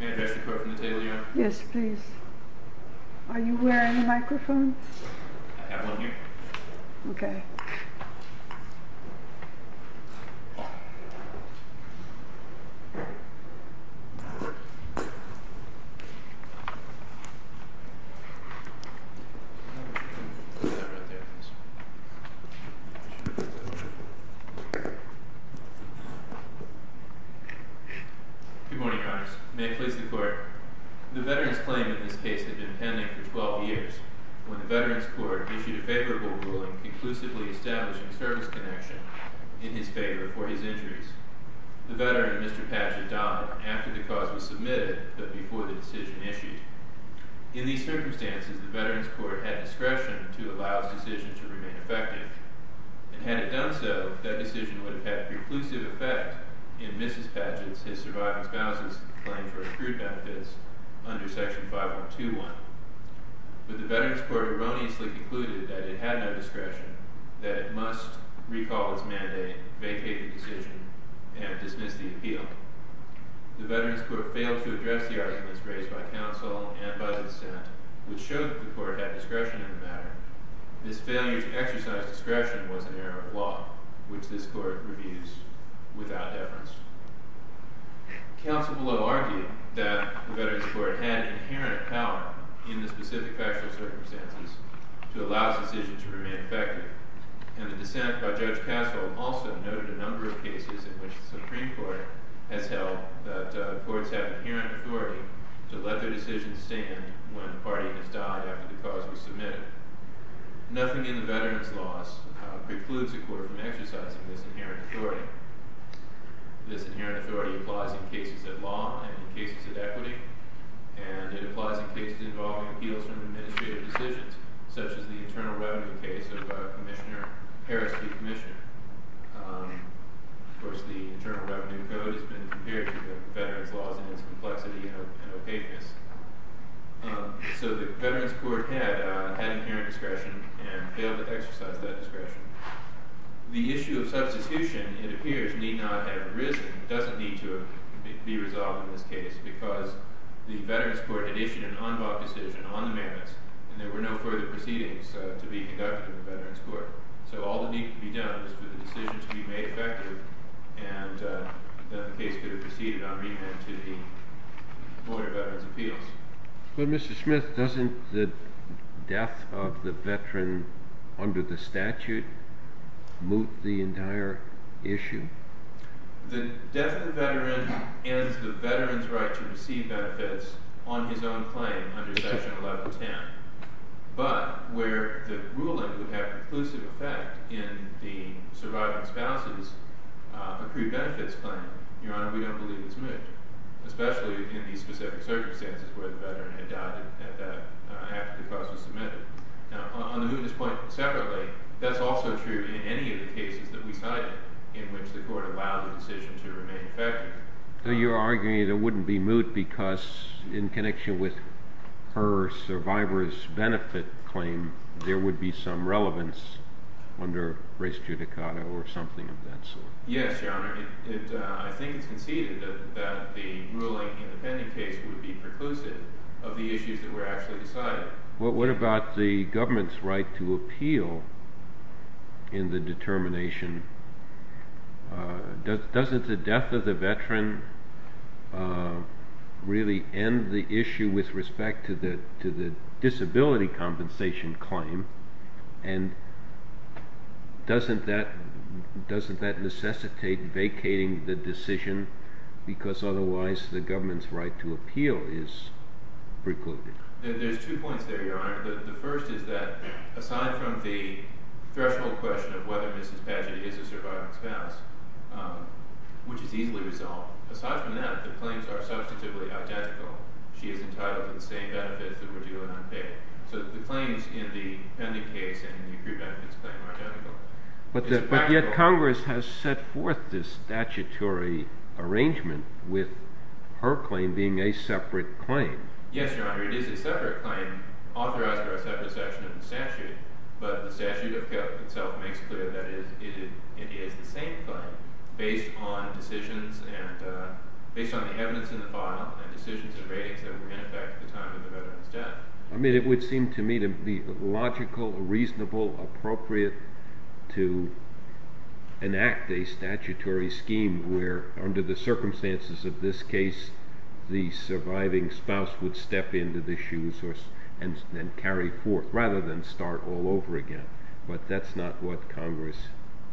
May I address the court from the table, Your Honor? Yes, please. Are you wearing a microphone? I have one here. Okay. Good morning, Your Honor. May it please the court. The veterans' claim in this case had been pending for 12 years, when the veterans' court issued a favorable ruling conclusively establishing a service connection in his favor for his injuries. The veteran, Mr. Padgett, died after the cause was submitted, but before the decision issued. In these circumstances, the veterans' court had discretion to allow his decision to remain effective, and had it done so, that decision would have had preclusive effect in Mrs. Padgett's, his surviving spouse's, claim for accrued benefits under Section 5121. But the veterans' court erroneously concluded that it had no discretion, that it must recall its mandate, vacate the decision, and dismiss the appeal. The veterans' court failed to address the arguments raised by counsel and by the dissent, which showed that the court had discretion in the matter. This failure to exercise discretion was an error of law, which this court reviews without deference. Counsel below argued that the veterans' court had inherent power in the specific factual circumstances to allow its decision to remain effective, and the dissent by Judge Castle also noted a number of cases in which the Supreme Court has held that the courts have inherent authority to let their decision stand when a party has died after the cause was submitted. Nothing in the veterans' laws precludes a court from exercising this inherent authority. This inherent authority applies in cases of law and in cases of equity, and it applies in cases involving appeals from administrative decisions, such as the internal revenue case of Commissioner Harris v. Commissioner. Of course, the internal revenue code has been compared to the veterans' laws in its complexity and opaqueness. So the veterans' court had inherent discretion and failed to exercise that discretion. The issue of substitution, it appears, need not have arisen. It doesn't need to be resolved in this case because the veterans' court had issued an unlawful decision on the mandates, and there were no further proceedings to be conducted in the veterans' court. So all that needed to be done was for the decision to be made effective, and then the case could have proceeded on remand to the Board of Veterans' Appeals. But, Mr. Smith, doesn't the death of the veteran under the statute moot the entire issue? The death of the veteran ends the veteran's right to receive benefits on his own claim under Section 1110. But where the ruling would have conclusive effect in the surviving spouse's accrued benefits plan, Your Honor, we don't believe it's moot, especially in these specific circumstances where the veteran had died after the cause was submitted. Now, on the mootness point separately, that's also true in any of the cases that we cited in which the court allowed the decision to remain effective. So you're arguing that it wouldn't be moot because, in connection with her survivor's benefit claim, there would be some relevance under res judicata or something of that sort? Yes, Your Honor. I think it's conceded that the ruling in the pending case would be preclusive of the issues that were actually decided. What about the government's right to appeal in the determination? Doesn't the death of the veteran really end the issue with respect to the disability compensation claim? And doesn't that necessitate vacating the decision because otherwise the government's right to appeal is precluded? There's two points there, Your Honor. The first is that, aside from the threshold question of whether Mrs. Padgett is a surviving spouse, which is easily resolved, aside from that, the claims are substantively identical. She is entitled to the same benefits that were due and unpaid. So the claims in the pending case and the accrued benefits claim are identical. But yet Congress has set forth this statutory arrangement with her claim being a separate claim. Yes, Your Honor. It is a separate claim authorized by a separate section of the statute. But the statute of code itself makes clear that it is the same claim based on decisions and based on the evidence in the file and decisions and ratings that were in effect at the time of the veteran's death. I mean, it would seem to me to be logical, reasonable, appropriate to enact a statutory scheme where, under the circumstances of this case, the surviving spouse would step into the shoes and carry forth rather than start all over again. But that's not what Congress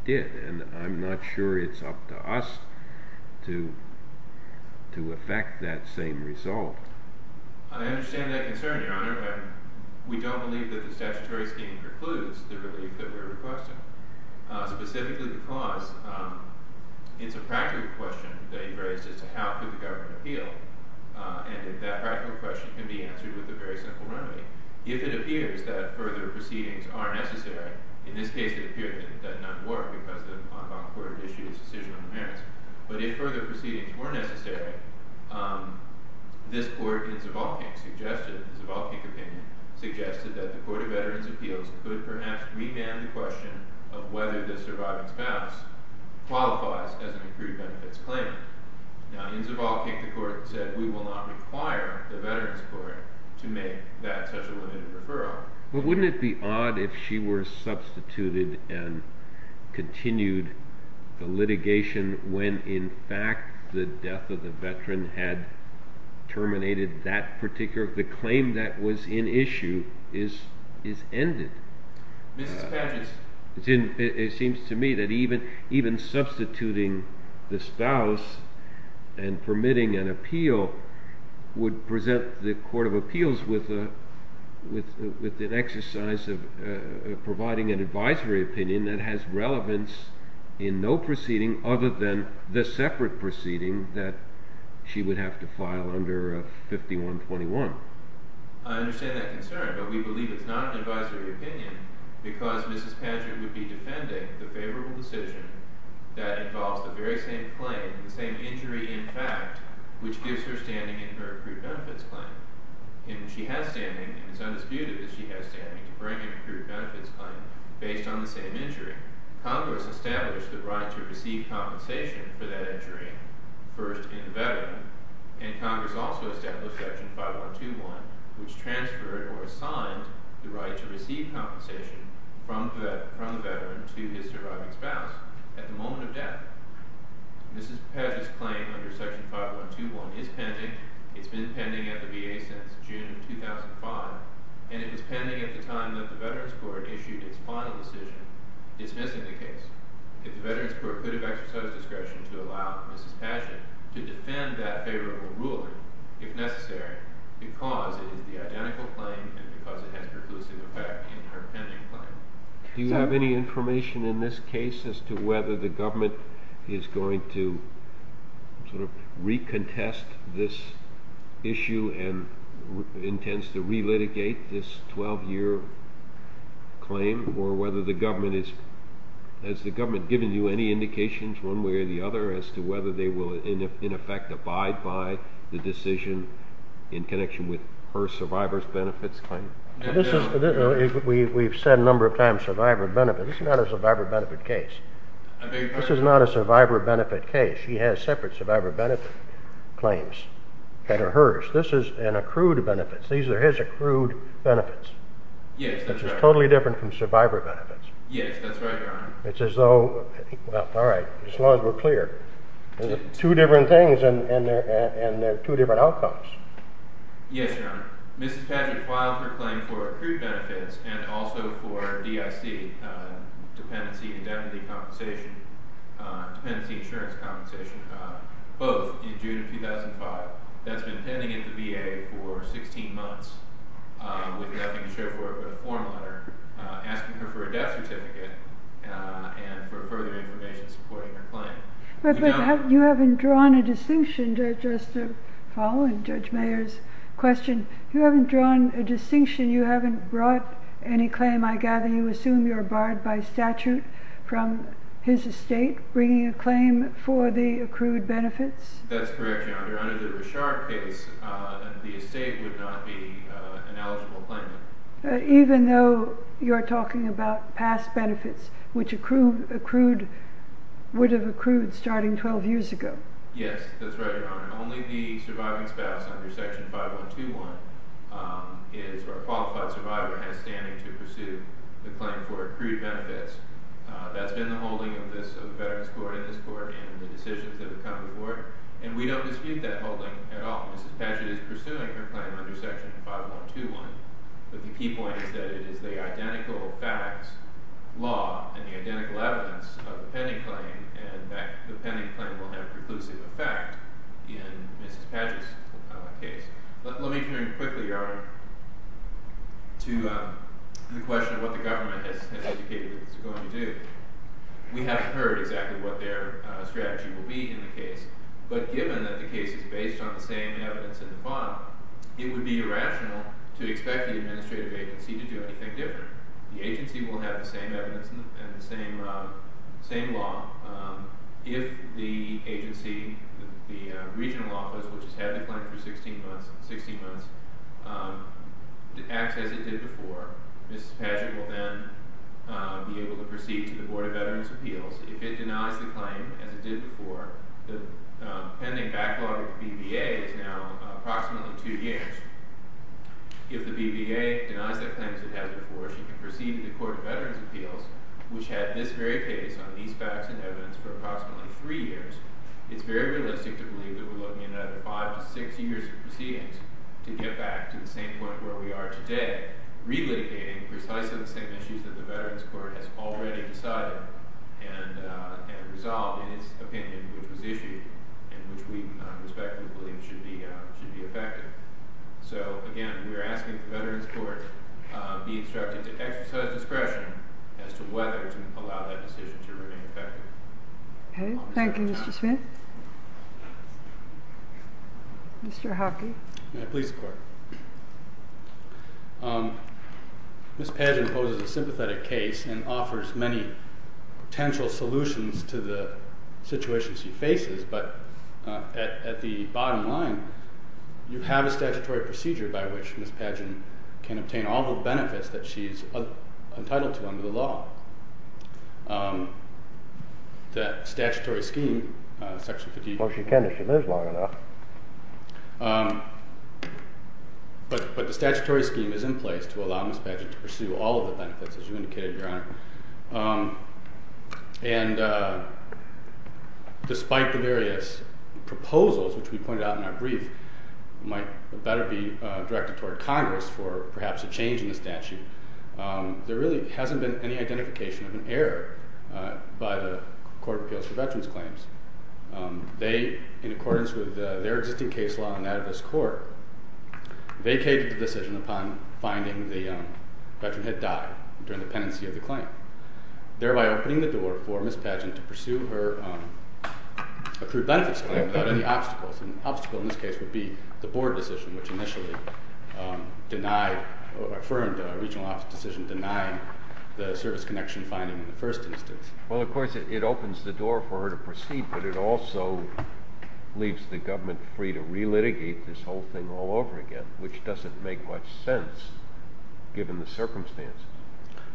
did, and I'm not sure it's up to us to effect that same result. I understand that concern, Your Honor, but we don't believe that the statutory scheme precludes the relief that we're requesting. Specifically because it's a practical question that you've raised as to how could the government appeal, and if that practical question can be answered with a very simple remedy. If it appears that further proceedings are necessary, in this case it appeared that none were because the en banc court had issued its decision on the merits, but if further proceedings were necessary, this court, in Zavalkyk's opinion, suggested that the Court of Veterans' Appeals could perhaps remand the question of whether the surviving spouse qualifies as an accrued benefits claimant. Now, in Zavalkyk, the court said we will not require the Veterans' Court to make that such a limited referral. But wouldn't it be odd if she were substituted and continued the litigation when, in fact, the death of the veteran had terminated that particular claim that was in issue is ended? It seems to me that even substituting the spouse and permitting an appeal would present the Court of Appeals with an exercise of providing an advisory opinion that has relevance in no proceeding other than the separate proceeding that she would have to file under 5121. I understand that concern, but we believe it's not an advisory opinion because Mrs. Padgett would be defending the favorable decision that involves the very same claim, the same injury in fact, which gives her standing in her accrued benefits claim. And she has standing, and it's undisputed that she has standing to bring an accrued benefits claim based on the same injury. Congress established the right to receive compensation for that injury first in the veteran, and Congress also established Section 5121, which transferred or assigned the right to receive compensation from the veteran to his surviving spouse at the moment of death. Mrs. Padgett's claim under Section 5121 is pending. It's been pending at the VA since June 2005, and it was pending at the time that the Veterans Court issued its final decision dismissing the case. If the Veterans Court could have exercised discretion to allow Mrs. Padgett to defend that favorable ruling, if necessary, because it is the identical claim and because it has preclusive effect in her pending claim. Do you have any information in this case as to whether the government is going to sort of recontest this issue and intends to relitigate this 12-year claim, or whether the government is, has the government given you any indications one way or the other as to whether they will, in effect, abide by the decision in connection with her survivor's benefits claim? We've said a number of times survivor benefits. This is not a survivor benefit case. This is not a survivor benefit case. She has separate survivor benefit claims that are hers. This is an accrued benefit. These are his accrued benefits. Yes, that's right. This is totally different from survivor benefits. Yes, that's right, Your Honor. It's as though, well, all right, as long as we're clear. Two different things and two different outcomes. Yes, Your Honor. Mrs. Patrick filed her claim for accrued benefits and also for DIC, dependency and debt-reducing compensation, dependency insurance compensation, both in June of 2005. That's been pending at the VA for 16 months with nothing to show for it but a form letter asking her for a death certificate and for further information supporting her claim. But you haven't drawn a distinction, just following Judge Mayer's question. You haven't drawn a distinction. You haven't brought any claim. I gather you assume you're barred by statute from his estate bringing a claim for the accrued benefits? That's correct, Your Honor. Under the Bouchard case, the estate would not be an eligible claimant. Even though you're talking about past benefits, which would have accrued starting 12 years ago? Yes, that's right, Your Honor. Only the surviving spouse under Section 5121 is a qualified survivor has standing to pursue the claim for accrued benefits. That's been the holding of the Veterans Court in this court and the decisions of the common court, and we don't dispute that holding at all. Mrs. Patchett is pursuing her claim under Section 5121. But the key point is that it is the identical facts, law, and the identical evidence of the pending claim and that the pending claim will have preclusive effect in Mrs. Patchett's case. Let me turn quickly, Your Honor, to the question of what the government has indicated it's going to do. We haven't heard exactly what their strategy will be in the case. But given that the case is based on the same evidence in the file, it would be irrational to expect the administrative agency to do anything different. The agency will have the same evidence and the same law. If the agency, the regional office, which has had the claim for 16 months, acts as it did before, Mrs. Patchett will then be able to proceed to the Board of Veterans' Appeals. If it denies the claim, as it did before, the pending backlog with the BVA is now approximately two years. If the BVA denies that claim as it has before, she can proceed to the Court of Veterans' Appeals, which had this very case on these facts and evidence for approximately three years. It's very realistic to believe that we're looking at five to six years of proceedings to get back to the same point where we are today, relitigating precisely the same issues that the Veterans' Court has already decided and resolved in its opinion, which was issued and which we respectfully believe should be effective. So, again, we are asking the Veterans' Court to be instructed to exercise discretion as to whether to allow that decision to remain effective. Thank you, Mr. Smith. Mr. Hockey. Please, Court. Ms. Patchett poses a sympathetic case and offers many potential solutions to the situation she faces, but at the bottom line, you have a statutory procedure by which Ms. Patchett can obtain all the benefits that she's entitled to under the law. The statutory scheme, Section 58- Well, she can if she lives long enough. But the statutory scheme is in place to allow Ms. Patchett to pursue all of the benefits, as you indicated, Your Honor. And despite the various proposals, which we pointed out in our brief, might better be directed toward Congress for perhaps a change in the statute, there really hasn't been any identification of an error by the Court of Appeals for Veterans' Claims. They, in accordance with their existing case law and that of this Court, vacated the decision upon finding the veteran had died during the pendency of the claim, thereby opening the door for Ms. Patchett to pursue her accrued benefits claim without any obstacles. An obstacle in this case would be the Board decision, which initially affirmed a regional office decision denying the service connection finding in the first instance. Well, of course, it opens the door for her to proceed, but it also leaves the government free to re-litigate this whole thing all over again, which doesn't make much sense given the circumstances.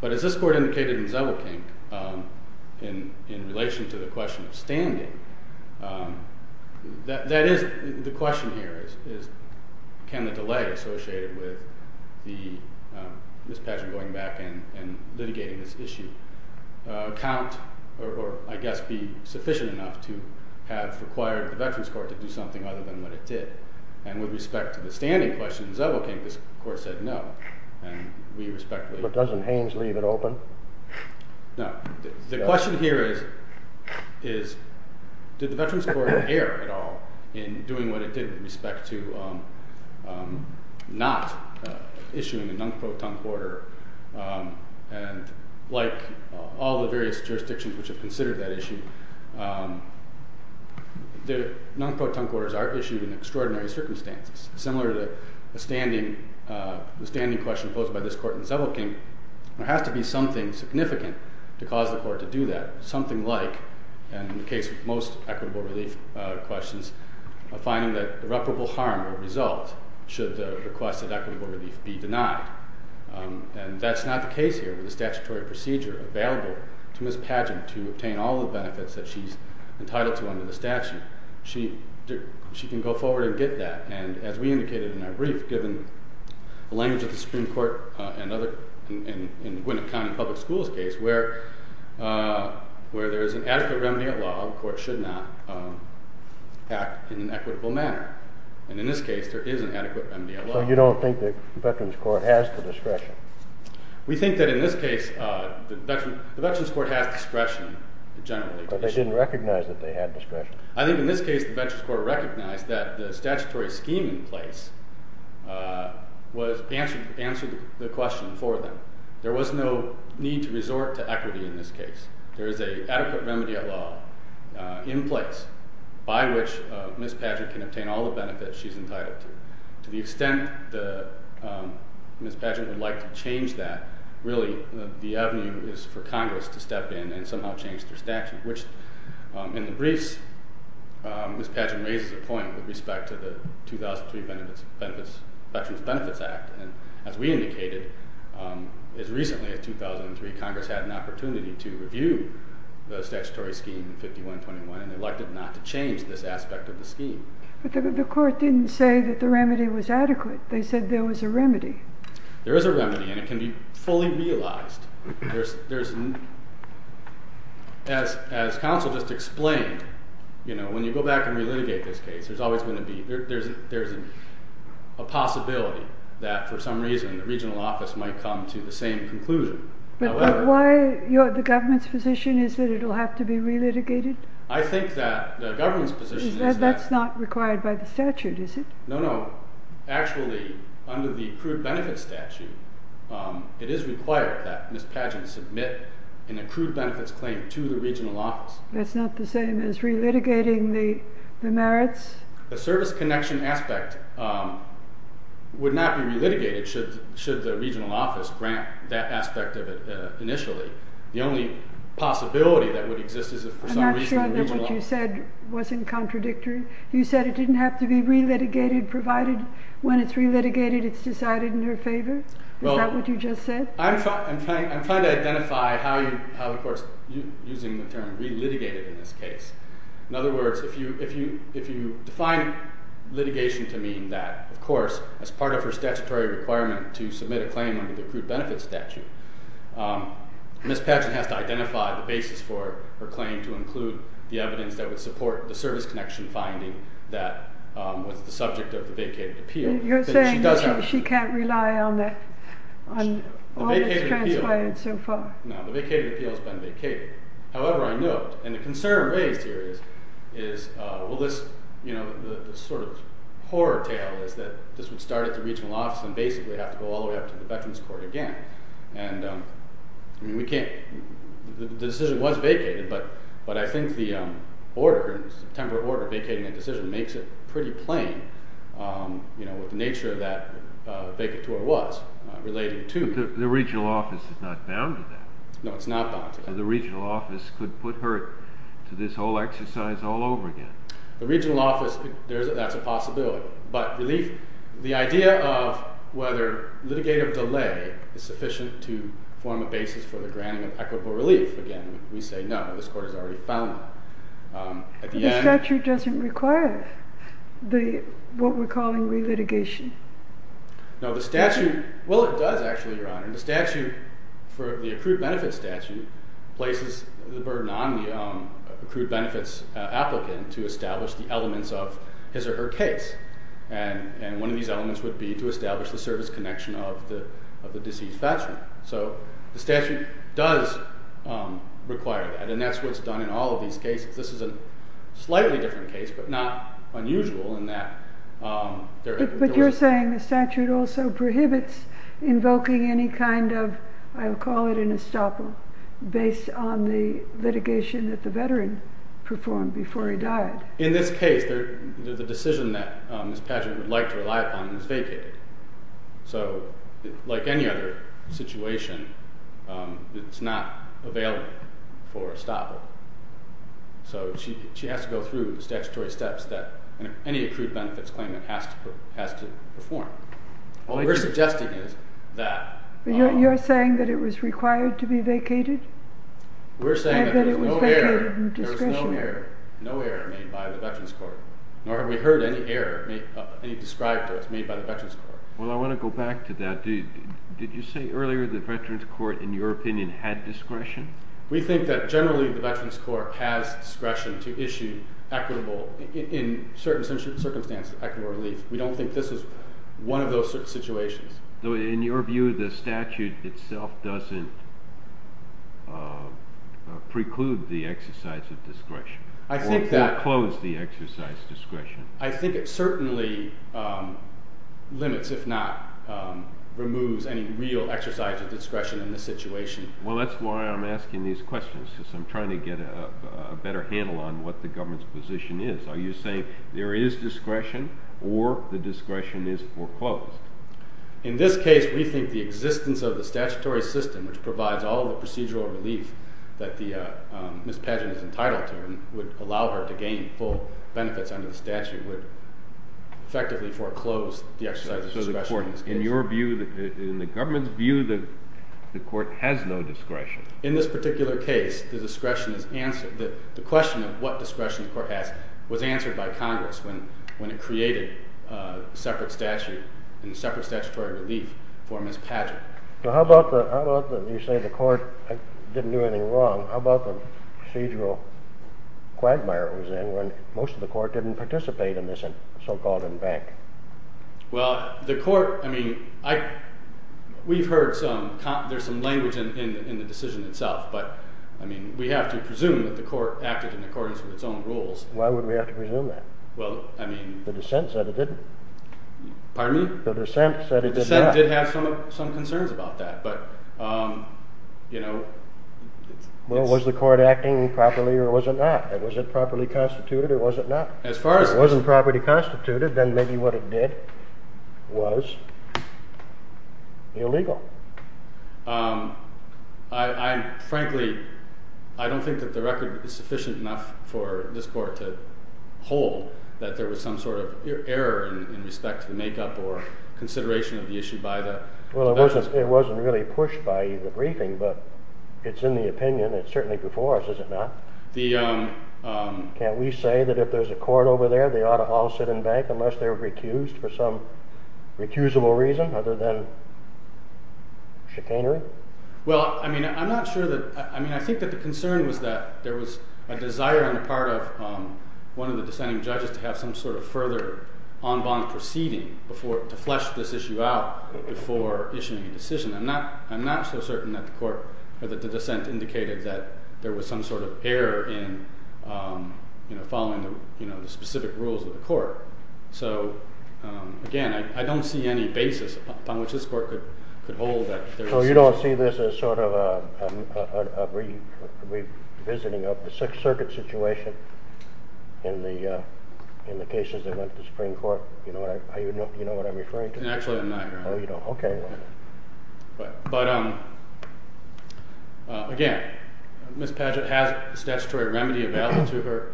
But as this Court indicated in Zewelkink, in relation to the question of standing, the question here is can the delay associated with Ms. Patchett going back and litigating this issue count or, I guess, be sufficient enough to have required the Veterans' Court to do something other than what it did. And with respect to the standing question in Zewelkink, this Court said no, and we respectfully— But doesn't Haynes leave it open? No. The question here is did the Veterans' Court err at all in doing what it did with respect to not issuing a non-pro-tongue order, and like all the various jurisdictions which have considered that issue, the non-pro-tongue orders are issued in extraordinary circumstances. Similar to the standing question posed by this Court in Zewelkink, there has to be something significant to cause the Court to do that, something like, and in the case of most equitable relief questions, a finding that irreparable harm will result should the request of equitable relief be denied. And that's not the case here with the statutory procedure available to Ms. Patchett to obtain all the benefits that she's entitled to under the statute. She can go forward and get that, and as we indicated in our brief, given the language of the Supreme Court in the Gwinnett County Public Schools case, where there is an adequate remedy of law, the Court should not act in an equitable manner. And in this case, there is an adequate remedy of law. So you don't think the Veterans' Court has the discretion? We think that in this case the Veterans' Court has discretion generally. But they didn't recognize that they had discretion. I think in this case the Veterans' Court recognized that the statutory scheme in place answered the question for them. There was no need to resort to equity in this case. There is an adequate remedy of law in place by which Ms. Patchett can obtain all the benefits she's entitled to. To the extent that Ms. Patchett would like to change that, really the avenue is for Congress to step in and somehow change their statute, which in the briefs, Ms. Patchett raises a point with respect to the 2003 Veterans Benefits Act. And as we indicated, as recently as 2003, Congress had an opportunity to review the statutory scheme 5121, and they elected not to change this aspect of the scheme. But the Court didn't say that the remedy was adequate. They said there was a remedy. There is a remedy, and it can be fully realized. As counsel just explained, when you go back and relitigate this case, there's always going to be a possibility that for some reason the regional office might come to the same conclusion. But why the government's position is that it will have to be relitigated? I think that the government's position is that... That's not required by the statute, is it? No, no. Actually, under the accrued benefits statute, it is required that Ms. Patchett submit an accrued benefits claim to the regional office. That's not the same as relitigating the merits? The service connection aspect would not be relitigated should the regional office grant that aspect of it initially. The only possibility that would exist is if for some reason... I'm not sure that what you said wasn't contradictory. You said it didn't have to be relitigated provided when it's relitigated it's decided in her favor? Is that what you just said? I'm trying to identify how, of course, using the term relitigated in this case. In other words, if you define litigation to mean that, of course, as part of her statutory requirement to submit a claim under the accrued benefits statute, Ms. Patchett has to identify the basis for her claim to include the evidence that would support the service connection finding that was the subject of the vacated appeal. You're saying that she can't rely on all that's transpired so far? No, the vacated appeal has been vacated. However, I note, and the concern raised here is, well, this sort of horror tale is that this would start at the regional office and basically have to go all the way up to the Veterans Court again. The decision was vacated, but I think the order, the temporary order vacating a decision makes it pretty plain, you know, what the nature of that vacatory was relating to. But the regional office is not bound to that. No, it's not bound to that. So the regional office could put her to this whole exercise all over again. The regional office, that's a possibility. The idea of whether litigative delay is sufficient to form a basis for the granting of equitable relief, again, we say no. This Court has already found that. The statute doesn't require what we're calling re-litigation. No, the statute, well, it does actually, Your Honor. The statute, for the accrued benefits statute, places the burden on the accrued benefits applicant to establish the elements of his or her case. And one of these elements would be to establish the service connection of the deceased veteran. So the statute does require that, and that's what's done in all of these cases. This is a slightly different case, but not unusual in that there are— But you're saying the statute also prohibits invoking any kind of, I'll call it an estoppel, based on the litigation that the veteran performed before he died. In this case, the decision that Ms. Padgett would like to rely upon is vacated. So, like any other situation, it's not available for estoppel. So she has to go through the statutory steps that any accrued benefits claimant has to perform. What we're suggesting is that— But you're saying that it was required to be vacated? We're saying that there was no error— And that it was vacated in discretion. There was no error made by the Veterans Court, nor have we heard any error, any described errors made by the Veterans Court. Well, I want to go back to that. Did you say earlier the Veterans Court, in your opinion, had discretion? We think that generally the Veterans Court has discretion to issue equitable—in certain circumstances, equitable relief. We don't think this is one of those situations. In your view, the statute itself doesn't preclude the exercise of discretion? I think that— Or close the exercise of discretion? I think it certainly limits, if not removes, any real exercise of discretion in this situation. Well, that's why I'm asking these questions, because I'm trying to get a better handle on what the government's position is. Are you saying there is discretion, or the discretion is foreclosed? In this case, we think the existence of the statutory system, which provides all the procedural relief that Ms. Padgett is entitled to, and would allow her to gain full benefits under the statute, would effectively foreclose the exercise of discretion in this case. In your view, in the government's view, the court has no discretion? In this particular case, the discretion is answered—the question of what discretion the court has was answered by Congress when it created separate statute and separate statutory relief for Ms. Padgett. Well, how about the—you say the court didn't do anything wrong. How about the procedural quagmire it was in when most of the court didn't participate in this so-called embank? Well, the court—I mean, we've heard some—there's some language in the decision itself, but, I mean, we have to presume that the court acted in accordance with its own rules. Why would we have to presume that? Well, I mean— The dissent said it didn't. Pardon me? The dissent said it did not. The dissent did have some concerns about that, but, you know— Well, was the court acting properly, or was it not? Was it properly constituted, or was it not? As far as— If it was constituted, then maybe what it did was illegal. I frankly—I don't think that the record is sufficient enough for this court to hold that there was some sort of error in respect to the makeup or consideration of the issue by the— Well, it wasn't really pushed by the briefing, but it's in the opinion. It's certainly before us, is it not? The— Can't we say that if there's a court over there, they ought to all sit and bank unless they were recused for some recusable reason other than chicanery? Well, I mean, I'm not sure that—I mean, I think that the concern was that there was a desire on the part of one of the dissenting judges to have some sort of further en banc proceeding before—to flesh this issue out before issuing a decision. I'm not—I'm not so certain that the court or that the dissent indicated that there was some sort of error in following the specific rules of the court. So, again, I don't see any basis upon which this court could hold that there's— So you don't see this as sort of a revisiting of the Sixth Circuit situation in the cases that went to Supreme Court? You know what I'm referring to? Actually, I'm not. Oh, you don't. Okay. But, again, Ms. Padgett has a statutory remedy available to her,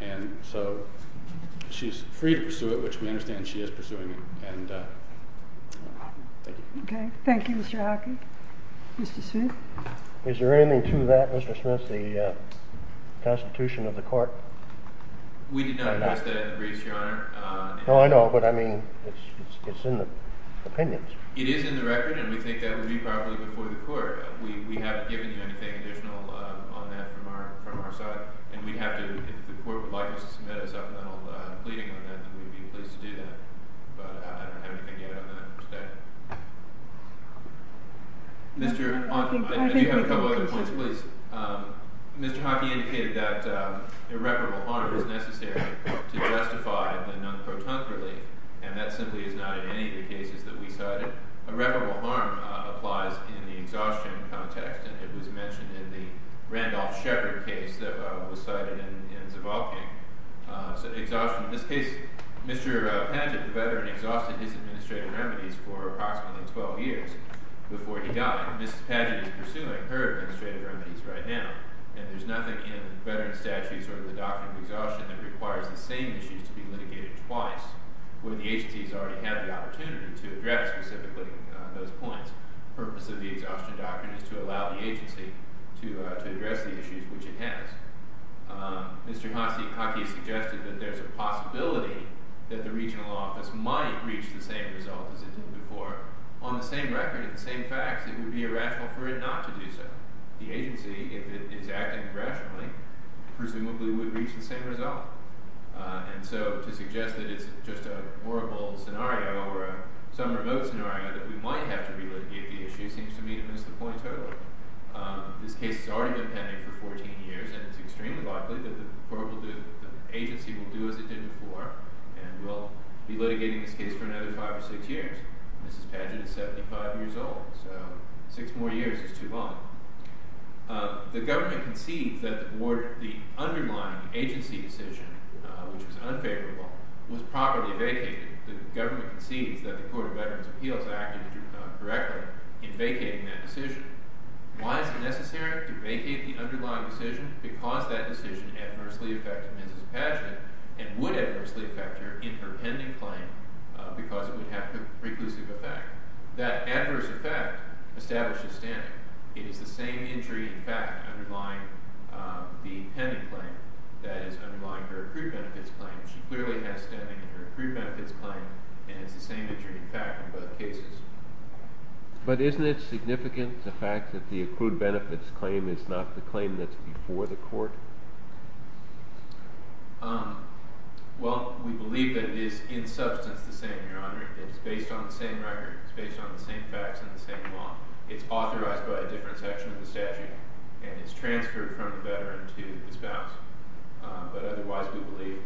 and so she's free to pursue it, which we understand she is pursuing it. And thank you. Okay. Thank you, Mr. Hockey. Mr. Smith? Is there anything to that, Mr. Smith, the constitution of the court? We did not address that in the briefs, Your Honor. No, I know, but, I mean, it's in the opinions. It is in the record, and we think that would be probably before the court. We haven't given you anything additional on that from our side, and we'd have to—if the court would like us to submit a supplemental pleading on that, then we'd be pleased to do that. But I don't have anything yet on that today. Mr. Hockey, I do have a couple other points, please. Mr. Hockey indicated that irreparable harm is necessary to justify the non-protunct relief, and that simply is not in any of the cases that we cited. Irreparable harm applies in the exhaustion context, and it was mentioned in the Randolph Shepard case that was cited in Zavalkia. So exhaustion—in this case, Mr. Padgett, the veteran, exhausted his administrative remedies for approximately 12 years before he died. Mrs. Padgett is pursuing her administrative remedies right now, and there's nothing in veteran statutes or the doctrine of exhaustion that requires the same issues to be litigated twice, when the agency has already had the opportunity to address specifically those points. The purpose of the exhaustion doctrine is to allow the agency to address the issues, which it has. Mr. Hockey suggested that there's a possibility that the regional office might reach the same result as it did before. On the same record, in the same facts, it would be irrational for it not to do so. The agency, if it is acting rationally, presumably would reach the same result. And so to suggest that it's just a horrible scenario or some remote scenario that we might have to relitigate the issue seems to me to miss the point totally. This case has already been pending for 14 years, and it's extremely likely that the agency will do as it did before and will be litigating this case for another five or six years. Mrs. Padgett is 75 years old, so six more years is too long. The government concedes that the underlying agency decision, which was unfavorable, was properly vacated. The government concedes that the Court of Veterans Appeals acted correctly in vacating that decision. Why is it necessary to vacate the underlying decision? Because that decision adversely affected Mrs. Padgett and would adversely affect her in her pending claim because it would have preclusive effect. That adverse effect establishes standing. It is the same injury in fact underlying the pending claim that is underlying her accrued benefits claim. She clearly has standing in her accrued benefits claim, and it's the same injury in fact in both cases. But isn't it significant the fact that the accrued benefits claim is not the claim that's before the court? Well, we believe that it is in substance the same, Your Honor. It's based on the same record. It's based on the same facts and the same law. It's authorized by a different section of the statute, and it's transferred from the veteran to the spouse. But otherwise, we believe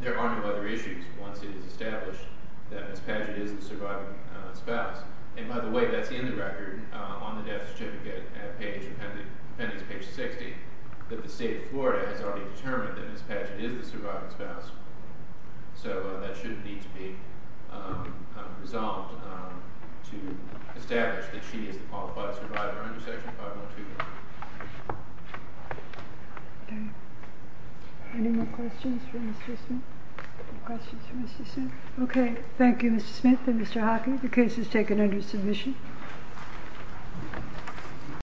there are no other issues once it is established that Mrs. Padgett is the surviving spouse. And by the way, that's in the record on the death certificate at page – that the state of Florida has already determined that Mrs. Padgett is the surviving spouse. So that shouldn't need to be resolved to establish that she is the qualified survivor under Section 512. Any more questions for Mr. Smith? No questions for Mr. Smith? Okay. Thank you, Mr. Smith and Mr. Hockey. The case is taken under submission.